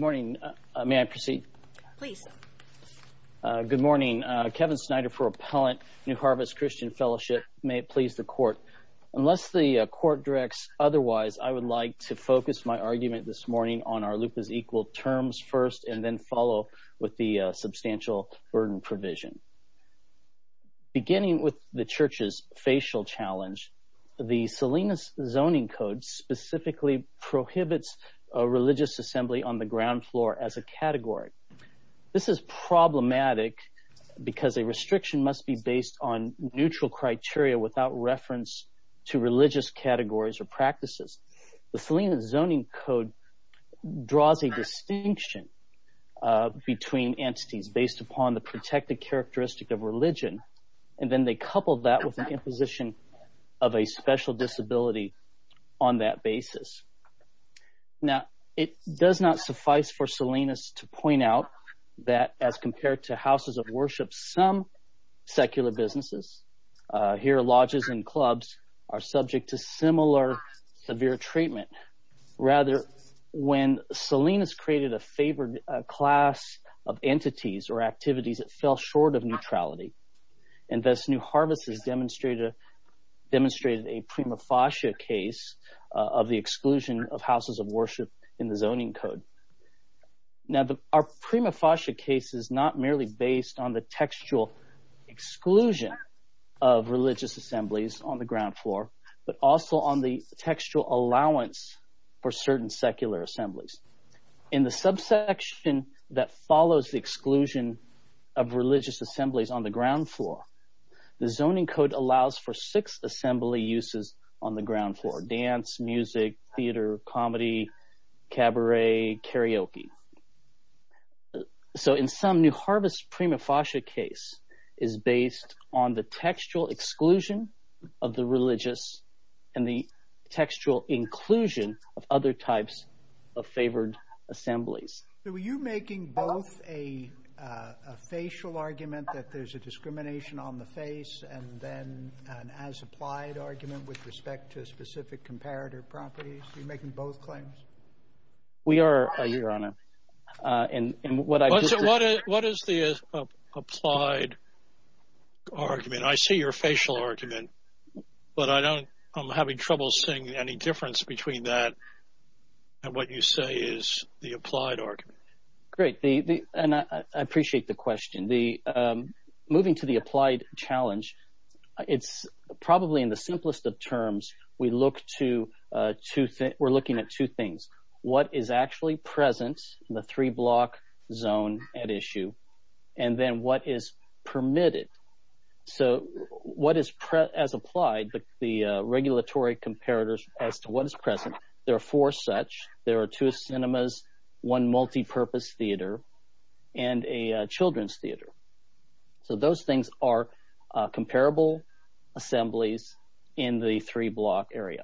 Good morning. May I proceed? Please. Good morning. Kevin Snyder for Appellant, New Harvest Christian Fellowship. May it please the Court. Unless the Court directs otherwise, I would like to focus my argument this morning on our loop is equal terms first and then follow with the substantial burden provision. Beginning with the Church's facial challenge, the Salinas Zoning Code specifically prohibits religious assembly on the ground floor as a category. This is problematic because a restriction must be based on neutral criteria without reference to religious categories or practices. The Salinas Zoning Code draws a distinction between entities based upon the protected characteristic of religion, and then they couple that with an imposition of a special disability on that basis. Now, it does not suffice for Salinas to point out that as compared to houses of worship, some secular businesses, here lodges and clubs, are subject to similar severe treatment. Rather, when Salinas created a favored class of entities or activities, it fell short of neutrality, and thus New Harvest has demonstrated a prima facie case of the exclusion of houses of worship in the Zoning Code. Now, our prima facie case is not merely based on the textual exclusion of religious assemblies on the ground floor, but also on the textual allowance for certain secular assemblies. In the subsection that follows the exclusion of religious assemblies on the ground floor, the Zoning Code allows for six assembly uses on the ground floor, dance, music, theater, comedy, cabaret, karaoke. So in sum, New Harvest's prima facie case is based on the textual exclusion of the religious and the textual inclusion of other types of favored assemblies. So are you making both a facial argument that there's a discrimination on the face, and then an as-applied argument with respect to specific comparator properties? Are you making both claims? We are, Your Honor. What is the applied argument? I see your facial argument, but I'm having trouble seeing any difference between that and what you say is the applied argument. Great, and I appreciate the question. Moving to the applied challenge, it's probably in the simplest of terms. We look to – we're looking at two things. What is actually present in the three-block zone at issue, and then what is permitted? So as applied, the regulatory comparators as to what is present, there are four such. There are two cinemas, one multipurpose theater, and a children's theater. So those things are comparable assemblies in the three-block area.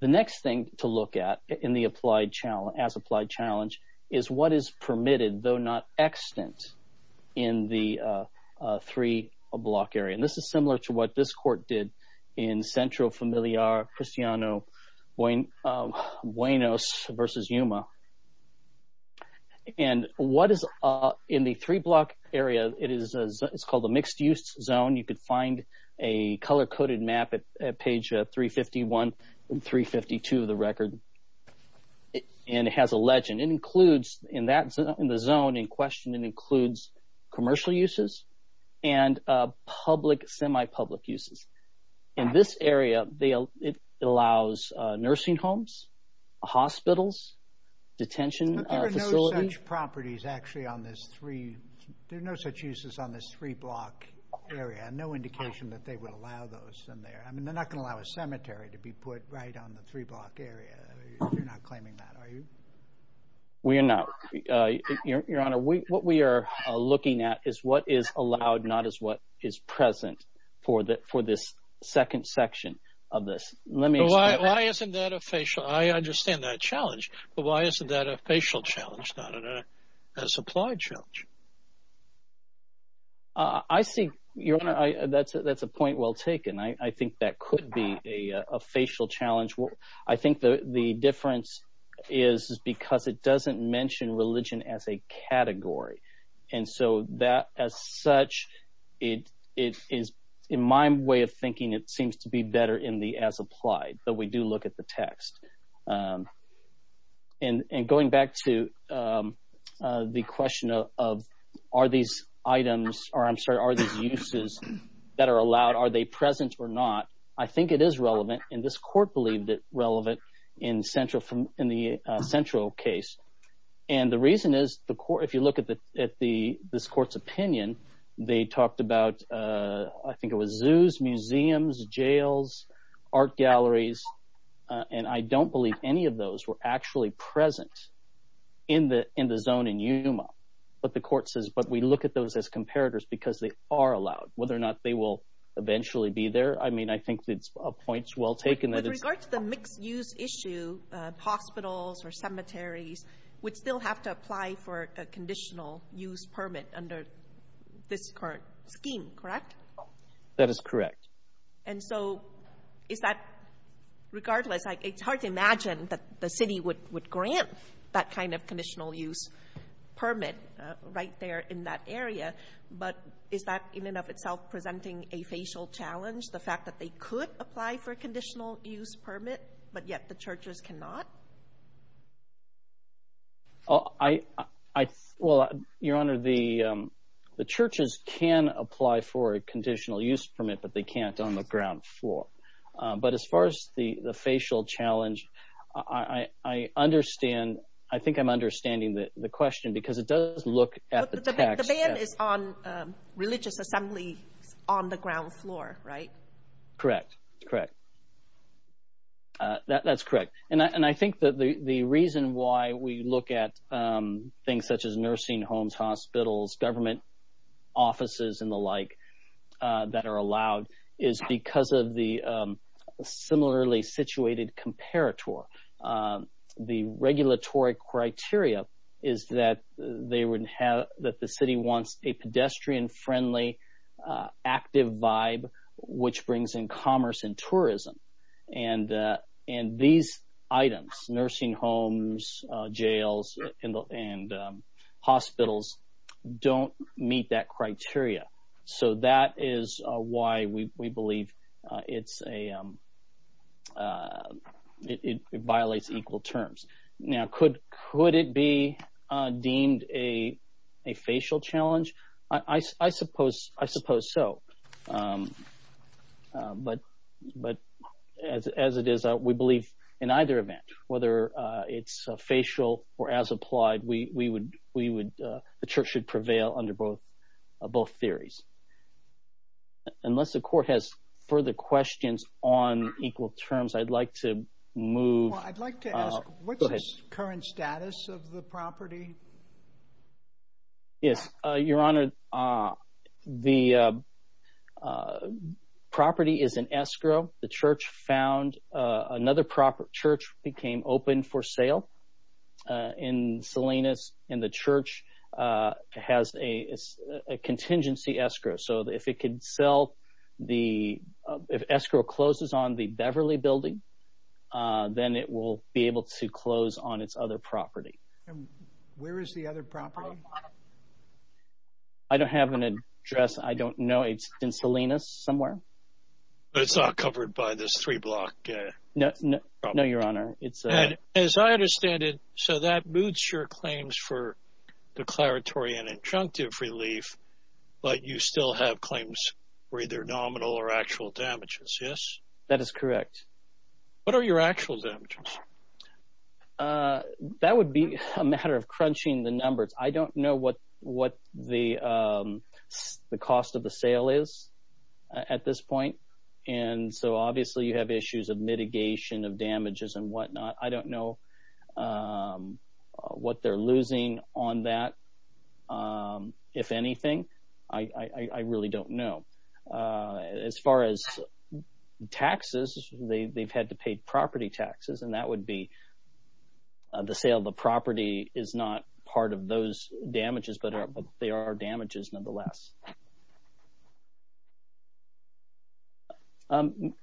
The next thing to look at in the as-applied challenge is what is permitted, though not extant, in the three-block area. And this is similar to what this court did in Centro Familiar Cristiano Buenos v. Yuma. And what is – in the three-block area, it's called the mixed-use zone. You could find a color-coded map at page 351 and 352 of the record, and it has a legend. It includes – in the zone in question, it includes commercial uses and public, semi-public uses. In this area, it allows nursing homes, hospitals, detention facilities. But there are no such properties actually on this three – there are no such uses on this three-block area, and no indication that they would allow those in there. I mean, they're not going to allow a cemetery to be put right on the three-block area. You're not claiming that, are you? We are not. Your Honor, what we are looking at is what is allowed, not is what is present for this second section of this. Let me explain. But why isn't that a facial – I understand that challenge, but why isn't that a facial challenge, not an as-applied challenge? I see – Your Honor, that's a point well taken. I think that could be a facial challenge. I think the difference is because it doesn't mention religion as a category, and so that, as such, it is – in my way of thinking, it seems to be better in the as-applied, but we do look at the text. And going back to the question of are these items – or I'm sorry, are these uses that are allowed, are they present or not, I think it is relevant, and this court believed it relevant in the central case. And the reason is, if you look at this court's opinion, they talked about – I think it was zoos, museums, jails, art galleries, and I don't believe any of those were actually present in the zone in Yuma. But the court says, but we look at those as comparators because they are allowed. Whether or not they will eventually be there, I mean, I think it's a point well taken that it's – With regard to the mixed-use issue, hospitals or cemeteries would still have to apply for a conditional-use permit under this current scheme, correct? That is correct. And so is that – regardless, it's hard to imagine that the city would grant that kind of conditional-use permit right there in that area, but is that in and of itself presenting a facial challenge, the fact that they could apply for a conditional-use permit, but yet the churches cannot? Well, Your Honor, the churches can apply for a conditional-use permit, but they can't on the ground floor. But as far as the facial challenge, I understand – I think I'm understanding the question because it does look at the tax – The ban is on religious assemblies on the ground floor, right? Correct, correct. That's correct. And I think that the reason why we look at things such as nursing homes, hospitals, government offices and the like that are allowed is because of the similarly situated comparator. The regulatory criteria is that the city wants a pedestrian-friendly, active vibe, which brings in commerce and tourism. And these items – nursing homes, jails and hospitals – don't meet that criteria. So that is why we believe it violates equal terms. Now, could it be deemed a facial challenge? I suppose so. But as it is, we believe in either event, whether it's facial or as applied, the church should prevail under both theories. Unless the court has further questions on equal terms, I'd like to move – I'd like to ask, what's the current status of the property? Yes, Your Honor, the property is in escrow. The church found – another church became open for sale in Salinas, and the church has a contingency escrow. So if it can sell the – if escrow closes on the Beverly building, then it will be able to close on its other property. And where is the other property? I don't have an address. I don't know. It's in Salinas somewhere. It's not covered by this three-block? No, Your Honor. As I understand it, so that moots your claims for declaratory and injunctive relief, but you still have claims for either nominal or actual damages, yes? That is correct. What are your actual damages? That would be a matter of crunching the numbers. I don't know what the cost of the sale is at this point, and so obviously you have issues of mitigation of damages and whatnot. I don't know what they're losing on that. If anything, I really don't know. As far as taxes, they've had to pay property taxes, and that would be the sale of the property is not part of those damages, but they are damages nonetheless.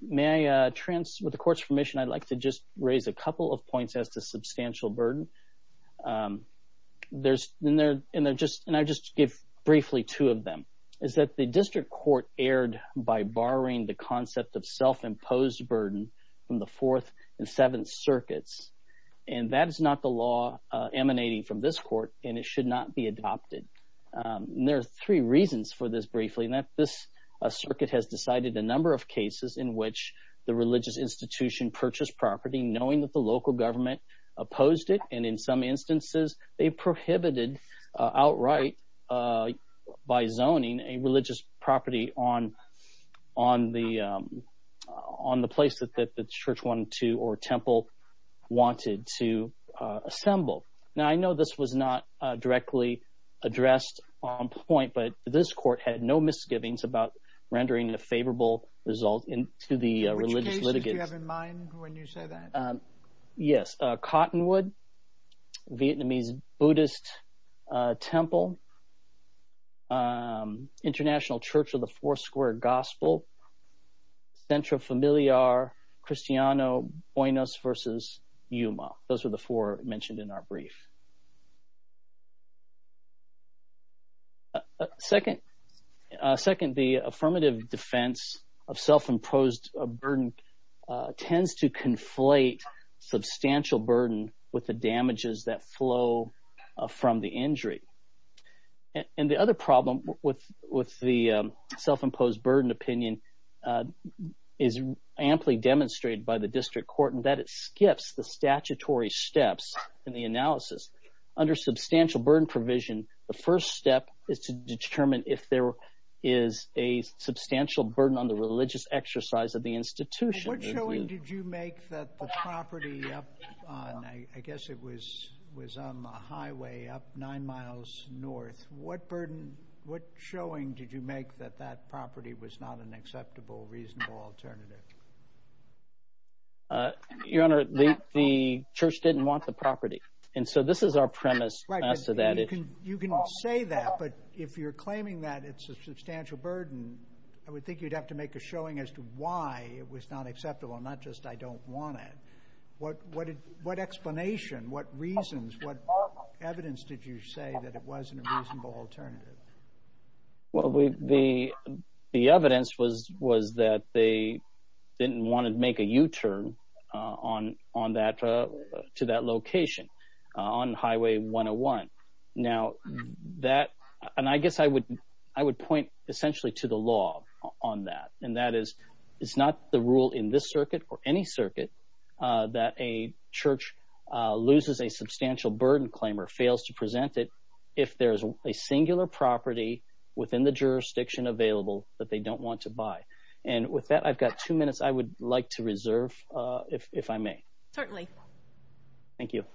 May I – with the court's permission, I'd like to just raise a couple of points as to substantial burden. There's – and I'll just give briefly two of them. One is that the district court erred by barring the concept of self-imposed burden from the Fourth and Seventh Circuits, and that is not the law emanating from this court, and it should not be adopted. And there are three reasons for this briefly. This circuit has decided a number of cases in which the religious institution purchased property knowing that the local government opposed it. And in some instances, they prohibited outright by zoning a religious property on the place that the church wanted to or temple wanted to assemble. Now, I know this was not directly addressed on point, but this court had no misgivings about rendering a favorable result to the religious litigants. Which cases do you have in mind when you say that? Yes, Cottonwood, Vietnamese Buddhist temple, International Church of the Four Square Gospel, Centro Familiar, Cristiano Buenos v. Yuma. Those are the four mentioned in our brief. Second, the affirmative defense of self-imposed burden tends to conflate substantial burden with the damages that flow from the injury. And the other problem with the self-imposed burden opinion is amply demonstrated by the district court in that it skips the statutory steps in the analysis. Under substantial burden provision, the first step is to determine if there is a substantial burden on the religious exercise of the institution. What showing did you make that the property up on, I guess it was on the highway up nine miles north, what burden, what showing did you make that that property was not an acceptable, reasonable alternative? Your Honor, the church didn't want the property. And so this is our premise as to that issue. You can say that, but if you're claiming that it's a substantial burden, I would think you'd have to make a showing as to why it was not acceptable, not just I don't want it. What explanation, what reasons, what evidence did you say that it wasn't a reasonable alternative? Well, the evidence was that they didn't want to make a U-turn on that, to that location on Highway 101. Now that, and I guess I would point essentially to the law on that. And that is it's not the rule in this circuit or any circuit that a church loses a substantial burden claim or fails to present it if there is a singular property within the jurisdiction available that they don't want to buy. And with that, I've got two minutes I would like to reserve if I may. Certainly. Thank you.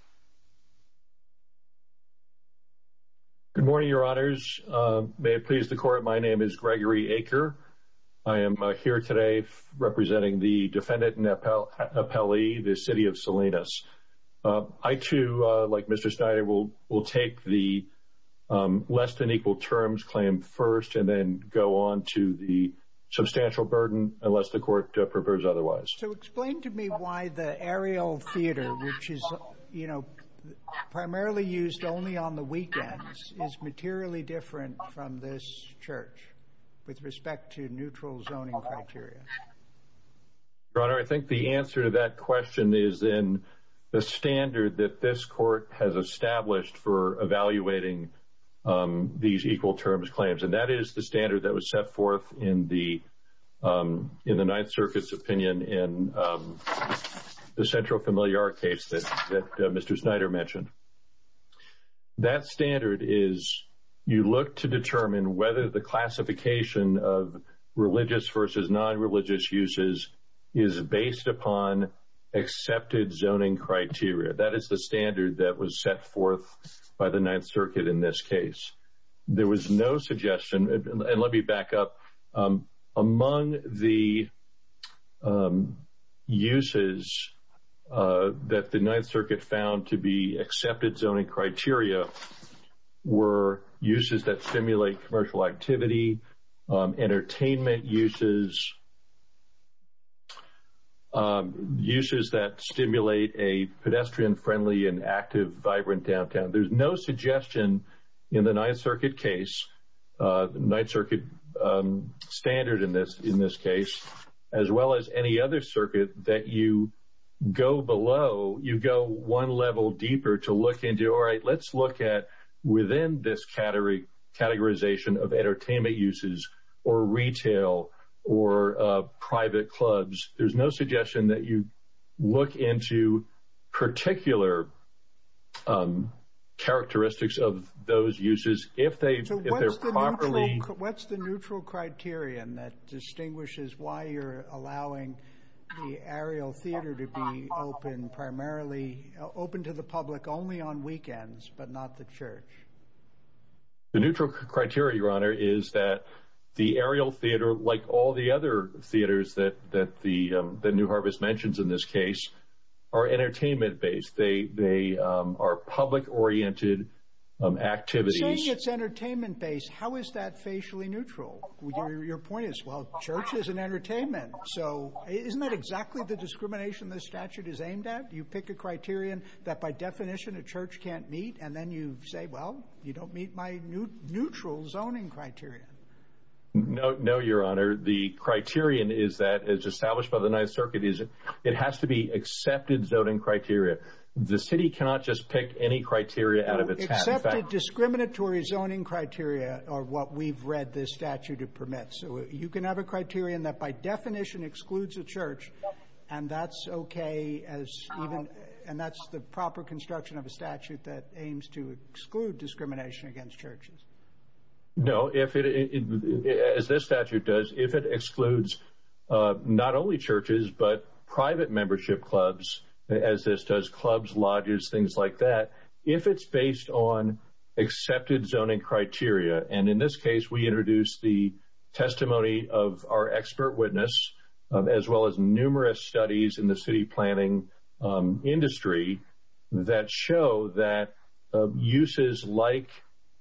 Good morning, Your Honors. May it please the Court, my name is Gregory Aker. I am here today representing the defendant and appellee, the City of Salinas. I, too, like Mr. Snyder, will take the less than equal terms claim first and then go on to the substantial burden unless the Court prefers otherwise. So explain to me why the aerial theater, which is, you know, primarily used only on the weekends, is materially different from this church with respect to neutral zoning criteria. Your Honor, I think the answer to that question is in the standard that this Court has established for evaluating these equal terms claims. And that is the standard that was set forth in the Ninth Circuit's opinion in the Central Familiar case that Mr. Snyder mentioned. That standard is you look to determine whether the classification of religious versus non-religious uses is based upon accepted zoning criteria. That is the standard that was set forth by the Ninth Circuit in this case. There was no suggestion, and let me back up. Among the uses that the Ninth Circuit found to be accepted zoning criteria were uses that stimulate commercial activity, entertainment uses, uses that stimulate a pedestrian-friendly and active, vibrant downtown. There's no suggestion in the Ninth Circuit case, the Ninth Circuit standard in this case, as well as any other circuit that you go below, you go one level deeper to look into, all right, let's look at within this categorization of entertainment uses or retail or private clubs. There's no suggestion that you look into particular characteristics of those uses if they're properly— So what's the neutral criterion that distinguishes why you're allowing the aerial theater to be open primarily, open to the public only on weekends but not the church? The neutral criteria, Your Honor, is that the aerial theater, like all the other theaters that New Harvest mentions in this case, are entertainment-based. They are public-oriented activities. Saying it's entertainment-based, how is that facially neutral? Your point is, well, church is an entertainment, so isn't that exactly the discrimination this statute is aimed at? You pick a criterion that, by definition, a church can't meet, and then you say, well, you don't meet my neutral zoning criterion. No, Your Honor. The criterion is that, as established by the Ninth Circuit, it has to be accepted zoning criteria. The city cannot just pick any criteria out of its hat. Accepted discriminatory zoning criteria are what we've read this statute permits. So you can have a criterion that, by definition, excludes a church, and that's okay as even— And that's the proper construction of a statute that aims to exclude discrimination against churches. No. As this statute does, if it excludes not only churches but private membership clubs, as this does clubs, lodges, things like that, if it's based on accepted zoning criteria, and in this case, we introduced the testimony of our expert witness, as well as numerous studies in the city planning industry that show that uses like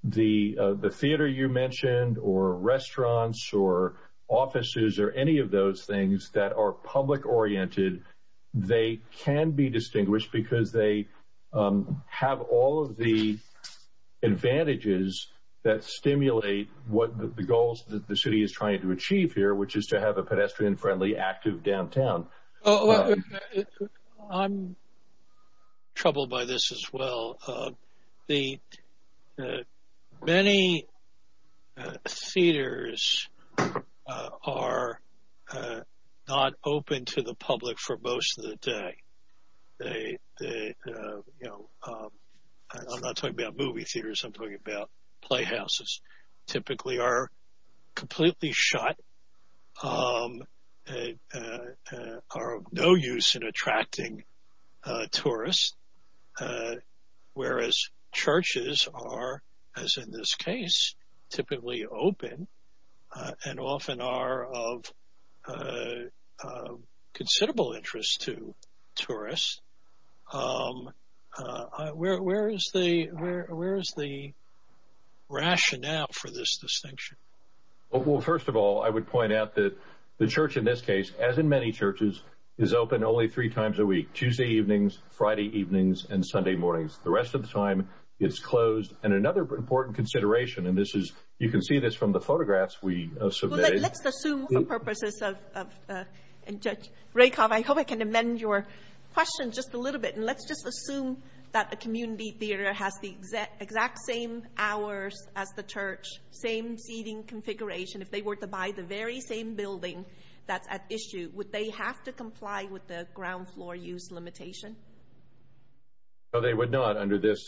the theater you mentioned or restaurants or offices or any of those things that are public-oriented, they can be distinguished because they have all of the advantages that stimulate what the goals that the city is trying to achieve here, which is to have a pedestrian-friendly, active downtown. I'm troubled by this as well. Many theaters are not open to the public for most of the day. I'm not talking about movie theaters. I'm talking about playhouses typically are completely shut, are of no use in attracting tourists, whereas churches are, as in this case, typically open and often are of considerable interest to tourists. Where is the rationale for this distinction? Well, first of all, I would point out that the church in this case, as in many churches, is open only three times a week, Tuesday evenings, Friday evenings, and Sunday mornings. The rest of the time, it's closed. And another important consideration, and you can see this from the photographs we surveyed. Let's assume for purposes of, and Judge Rakoff, I hope I can amend your question just a little bit, and let's just assume that a community theater has the exact same hours as the church, same seating configuration. If they were to buy the very same building that's at issue, would they have to comply with the ground floor use limitation? No, they would not under this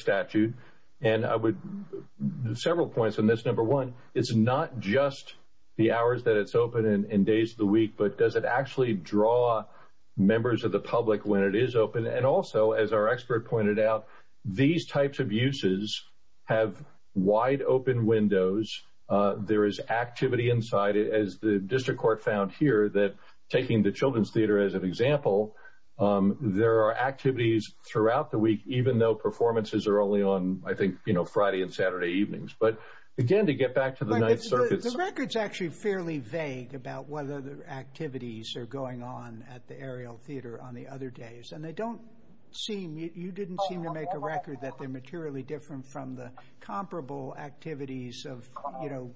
statute. And I would – several points on this. Number one, it's not just the hours that it's open and days of the week, but does it actually draw members of the public when it is open? And also, as our expert pointed out, these types of uses have wide open windows. There is activity inside. As the district court found here that taking the children's theater as an example, there are activities throughout the week, even though performances are only on, I think, Friday and Saturday evenings. But again, to get back to the Ninth Circuit. The record's actually fairly vague about whether the activities are going on at the Ariel Theater on the other days, and they don't seem – you didn't seem to make a record that they're materially different from the comparable activities of, you know,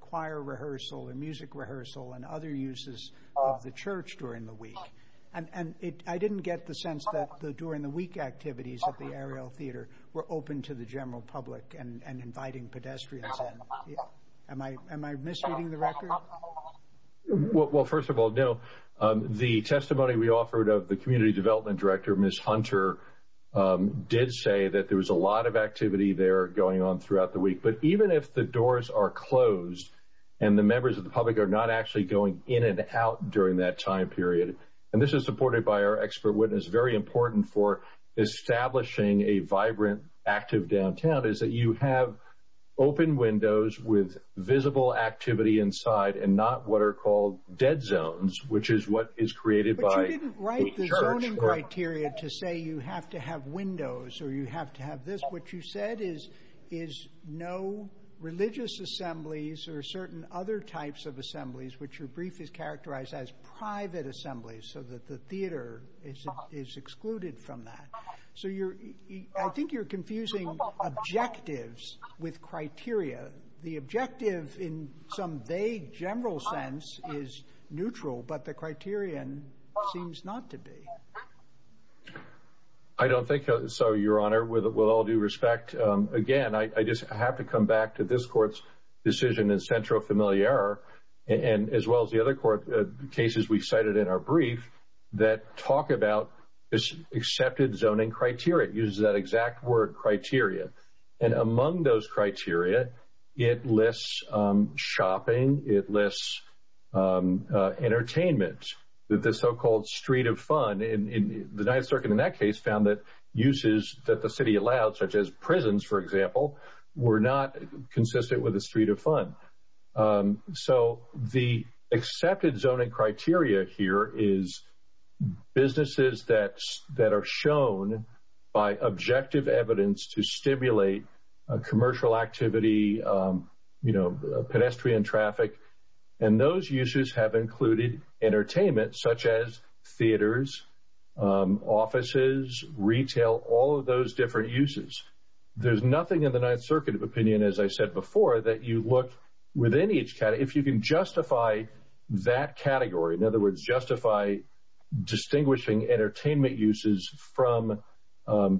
choir rehearsal and music rehearsal and other uses of the church during the week. And I didn't get the sense that the during-the-week activities at the Ariel Theater were open to the general public and inviting pedestrians in. Am I misleading the record? Well, first of all, no. The testimony we offered of the community development director, Ms. Hunter, did say that there was a lot of activity there going on throughout the week. But even if the doors are closed and the members of the public are not actually going in and out during that time period – and this is supported by our expert witness, very important for establishing a vibrant, active downtown – is that you have open windows with visible activity inside and not what are called dead zones, which is what is created by the church. But you didn't write the zoning criteria to say you have to have windows or you have to have this. What you said is no religious assemblies or certain other types of assemblies, which your brief is characterized as private assemblies, so that the theater is excluded from that. So I think you're confusing objectives with criteria. The objective in some vague, general sense is neutral, but the criterion seems not to be. I don't think so, Your Honor. With all due respect, again, I just have to come back to this Court's decision in Centro Familiar as well as the other cases we cited in our brief that talk about this accepted zoning criteria. It uses that exact word, criteria. And among those criteria, it lists shopping. It lists entertainment, the so-called street of fun. The Ninth Circuit in that case found that uses that the city allowed, such as prisons, for example, were not consistent with the street of fun. So the accepted zoning criteria here is businesses that are shown by objective evidence to stimulate commercial activity, pedestrian traffic. And those uses have included entertainment, such as theaters, offices, retail, all of those different uses. There's nothing in the Ninth Circuit opinion, as I said before, that you look within each category. If you can justify that category, in other words, justify distinguishing entertainment uses from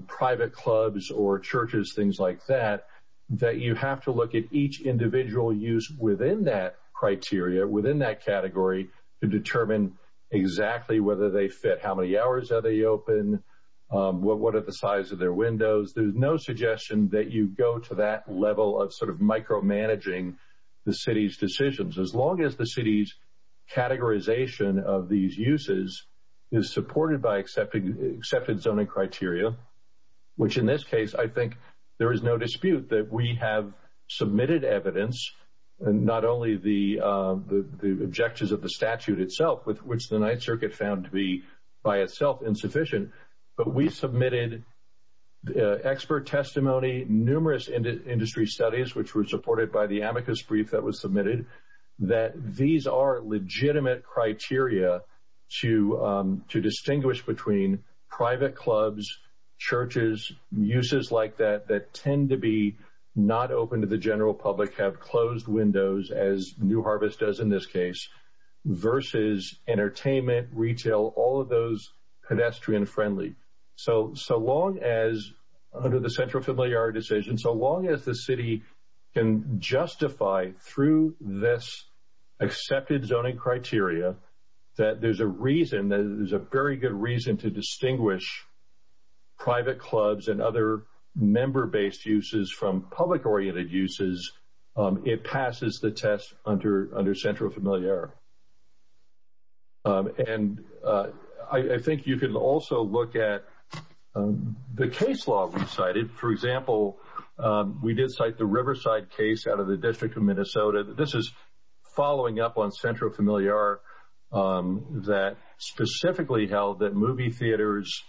private clubs or churches, things like that, that you have to look at each individual use within that criteria, within that category, to determine exactly whether they fit. How many hours are they open? What are the size of their windows? There's no suggestion that you go to that level of sort of micromanaging the city's decisions. As long as the city's categorization of these uses is supported by accepted zoning criteria, which in this case I think there is no dispute that we have submitted evidence, not only the objectives of the statute itself, which the Ninth Circuit found to be by itself insufficient, but we submitted expert testimony, numerous industry studies, which were supported by the amicus brief that was submitted, that these are legitimate criteria to distinguish between private clubs, churches, uses like that, that tend to be not open to the general public, have closed windows, as New Harvest does in this case, versus entertainment, retail, all of those pedestrian-friendly. So long as, under the central familiar decision, so long as the city can justify through this accepted zoning criteria that there's a reason, there's a very good reason to distinguish private clubs and other member-based uses from public-oriented uses, it passes the test under central familiar. And I think you can also look at the case law we cited. For example, we did cite the Riverside case out of the District of Minnesota. This is following up on central familiar that specifically held that movie theaters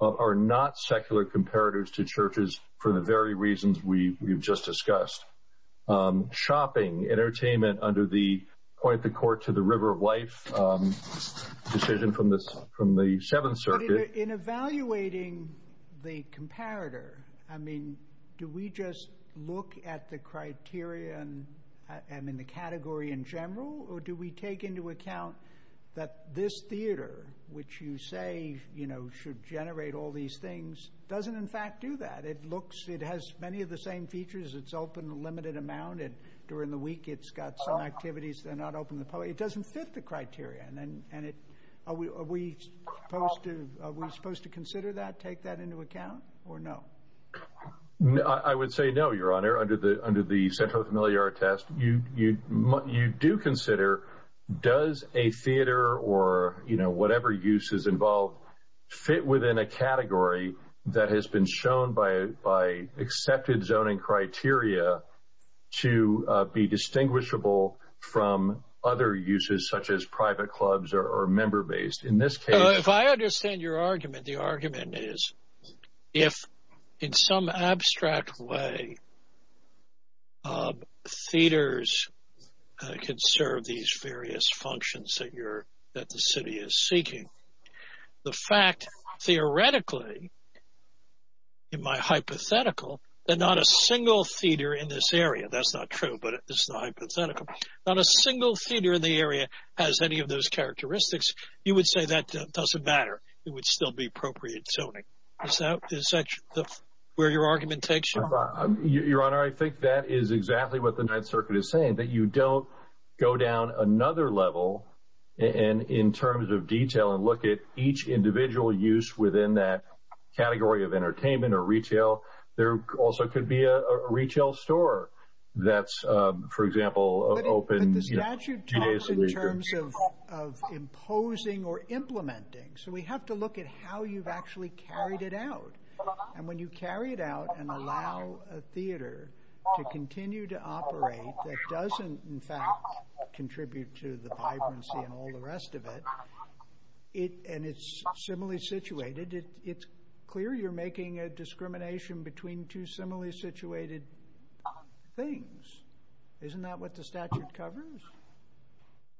are not secular comparators to churches for the very reasons we've just discussed. Shopping, entertainment under the Point the Court to the River of Life decision from the Seventh Circuit. But in evaluating the comparator, I mean, do we just look at the criteria and the category in general, or do we take into account that this theater, which you say should generate all these things, doesn't in fact do that? It has many of the same features. It's open a limited amount, and during the week it's got some activities that are not open to the public. It doesn't fit the criteria. Are we supposed to consider that, take that into account, or no? I would say no, Your Honor, under the central familiar test. You do consider, does a theater or whatever use is involved fit within a category that has been shown by accepted zoning criteria to be distinguishable from other uses such as private clubs or member-based? If I understand your argument, the argument is if in some abstract way theaters can serve these various functions that the city is seeking, the fact theoretically, in my hypothetical, that not a single theater in this area, that's not true, but it's not hypothetical, not a single theater in the area has any of those characteristics, you would say that doesn't matter. It would still be appropriate zoning. Is that where your argument takes you? Your Honor, I think that is exactly what the Ninth Circuit is saying, that you don't go down another level in terms of detail and look at each individual use within that category of entertainment or retail. There also could be a retail store that's, for example, open two days a week. But the statute talks in terms of imposing or implementing, so we have to look at how you've actually carried it out. And when you carry it out and allow a theater to continue to operate that doesn't, in fact, contribute to the vibrancy and all the rest of it, and it's similarly situated, it's clear you're making a discrimination between two similarly situated things. Isn't that what the statute covers?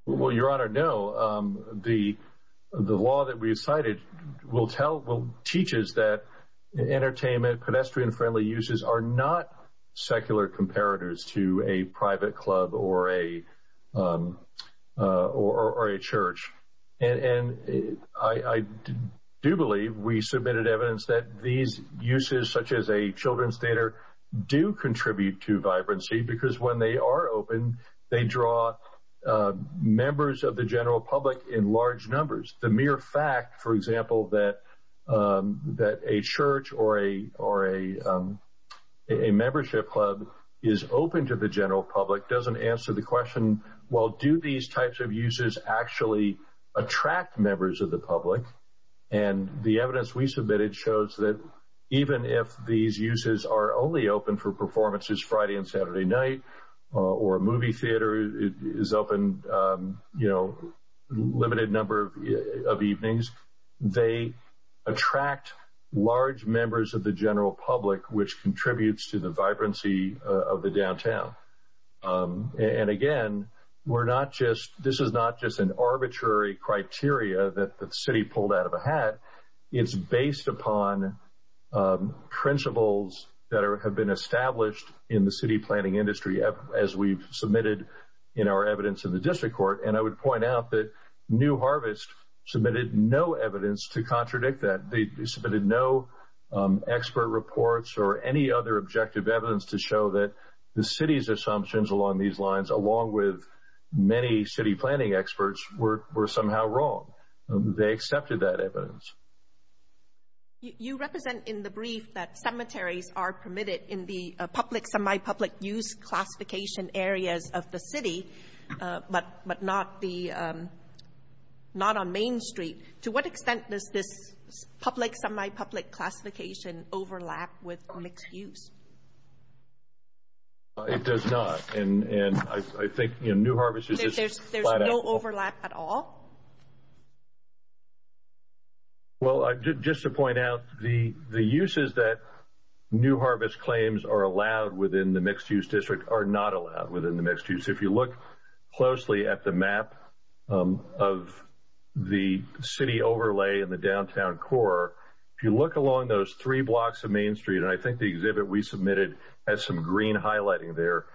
Well, Your Honor, no. The law that we cited teaches that entertainment, pedestrian-friendly uses are not secular comparators to a private club or a church. And I do believe we submitted evidence that these uses, such as a children's theater, do contribute to vibrancy because when they are open, they draw members of the general public in large numbers. The mere fact, for example, that a church or a membership club is open to the general public doesn't answer the question, well, do these types of uses actually attract members of the public? And the evidence we submitted shows that even if these uses are only open for performances Friday and Saturday night or a movie theater is open a limited number of evenings, they attract large members of the general public, which contributes to the vibrancy of the downtown. And again, this is not just an arbitrary criteria that the city pulled out of a hat. It's based upon principles that have been established in the city planning industry as we've submitted in our evidence in the district court. And I would point out that New Harvest submitted no evidence to contradict that. They submitted no expert reports or any other objective evidence to show that the city's assumptions along these lines, along with many city planning experts, were somehow wrong. They accepted that evidence. You represent in the brief that cemeteries are permitted in the public, semi-public use classification areas of the city, but not on Main Street. To what extent does this public, semi-public classification overlap with mixed use? It does not, and I think New Harvest is just flat out. There's no overlap at all? Well, just to point out, the uses that New Harvest claims are allowed within the mixed use district are not allowed within the mixed use. If you look closely at the map of the city overlay in the downtown core, if you look along those three blocks of Main Street, and I think the exhibit we submitted has some green highlighting there,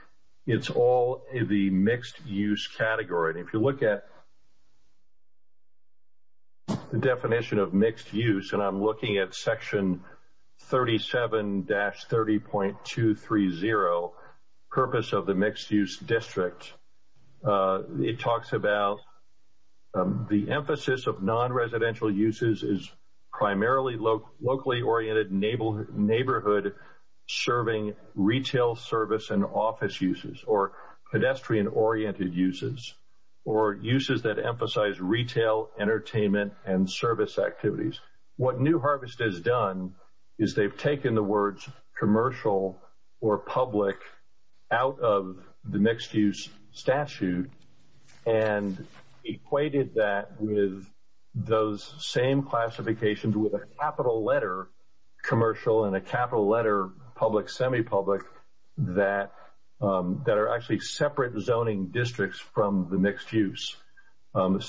it's all the mixed use category. If you look at the definition of mixed use, and I'm looking at section 37-30.230, purpose of the mixed use district, it talks about the emphasis of non-residential uses is primarily locally oriented neighborhood serving retail service and office uses, or pedestrian oriented uses, or uses that emphasize retail, entertainment, and service activities. What New Harvest has done is they've taken the words commercial or public out of the mixed use statute and equated that with those same classifications with a capital letter commercial and a capital letter public, semi-public that are actually separate zoning districts from the mixed use. The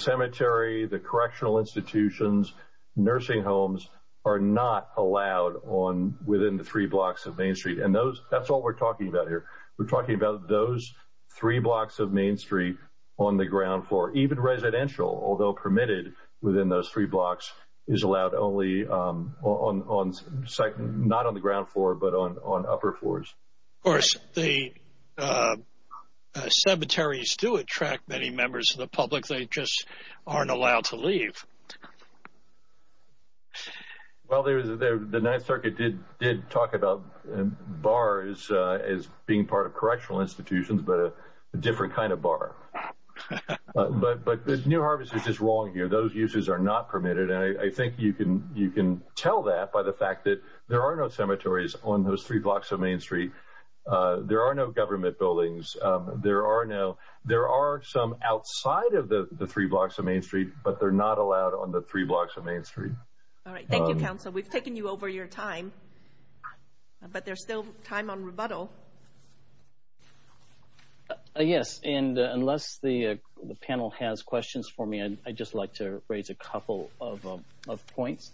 cemetery, the correctional institutions, nursing homes are not allowed within the three blocks of Main Street. That's all we're talking about here. We're talking about those three blocks of Main Street on the ground floor. Even residential, although permitted within those three blocks, is allowed not on the ground floor, but on upper floors. Of course, the cemeteries do attract many members of the public. They just aren't allowed to leave. Well, the Ninth Circuit did talk about bars as being part of correctional institutions, but a different kind of bar. But New Harvest is just wrong here. Those uses are not permitted, and I think you can tell that by the fact that there are no cemeteries on those three blocks of Main Street. There are no government buildings. There are some outside of the three blocks of Main Street, but they're not allowed on the three blocks of Main Street. All right. Thank you, counsel. We've taken you over your time, but there's still time on rebuttal. Yes, and unless the panel has questions for me, I'd just like to raise a couple of points.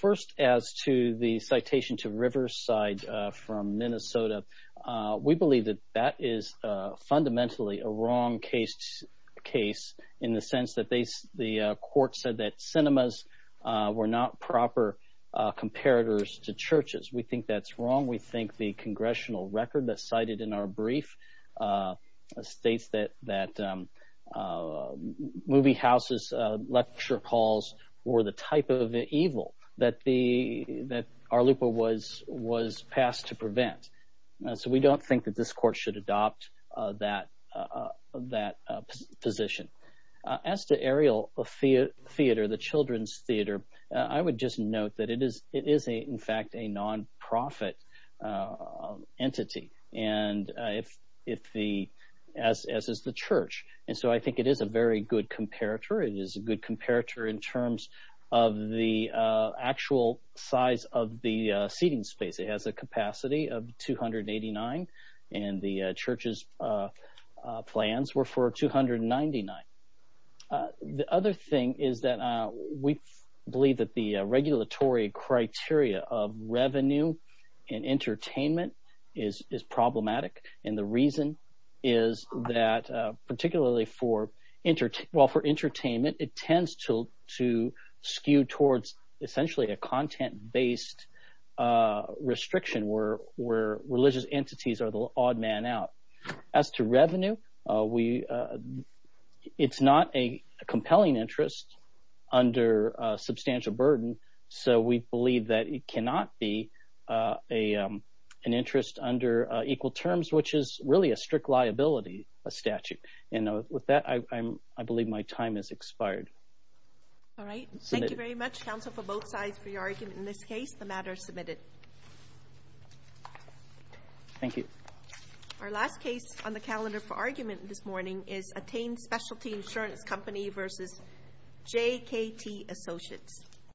First, as to the citation to Riverside from Minnesota, we believe that that is fundamentally a wrong case, in the sense that the court said that cinemas were not proper comparators to churches. We think that's wrong. We think the congressional record that's cited in our brief states that movie houses, lecture halls, were the type of evil that our loophole was passed to prevent. So we don't think that this court should adopt that position. As to Ariel Theater, the children's theater, I would just note that it is, in fact, a nonprofit entity, as is the church. And so I think it is a very good comparator. It is a good comparator in terms of the actual size of the seating space. It has a capacity of 289, and the church's plans were for 299. The other thing is that we believe that the regulatory criteria of revenue and entertainment is problematic, and the reason is that particularly for – well, for entertainment, it tends to skew towards essentially a content-based restriction where religious entities are the odd man out. As to revenue, it's not a compelling interest under substantial burden, so we believe that it cannot be an interest under equal terms, which is really a strict liability statute. And with that, I believe my time has expired. All right. Thank you very much, counsel, for both sides for your argument in this case. The matter is submitted. Thank you. Our last case on the calendar for argument this morning is Attain Specialty Insurance Company v. JKT Associates.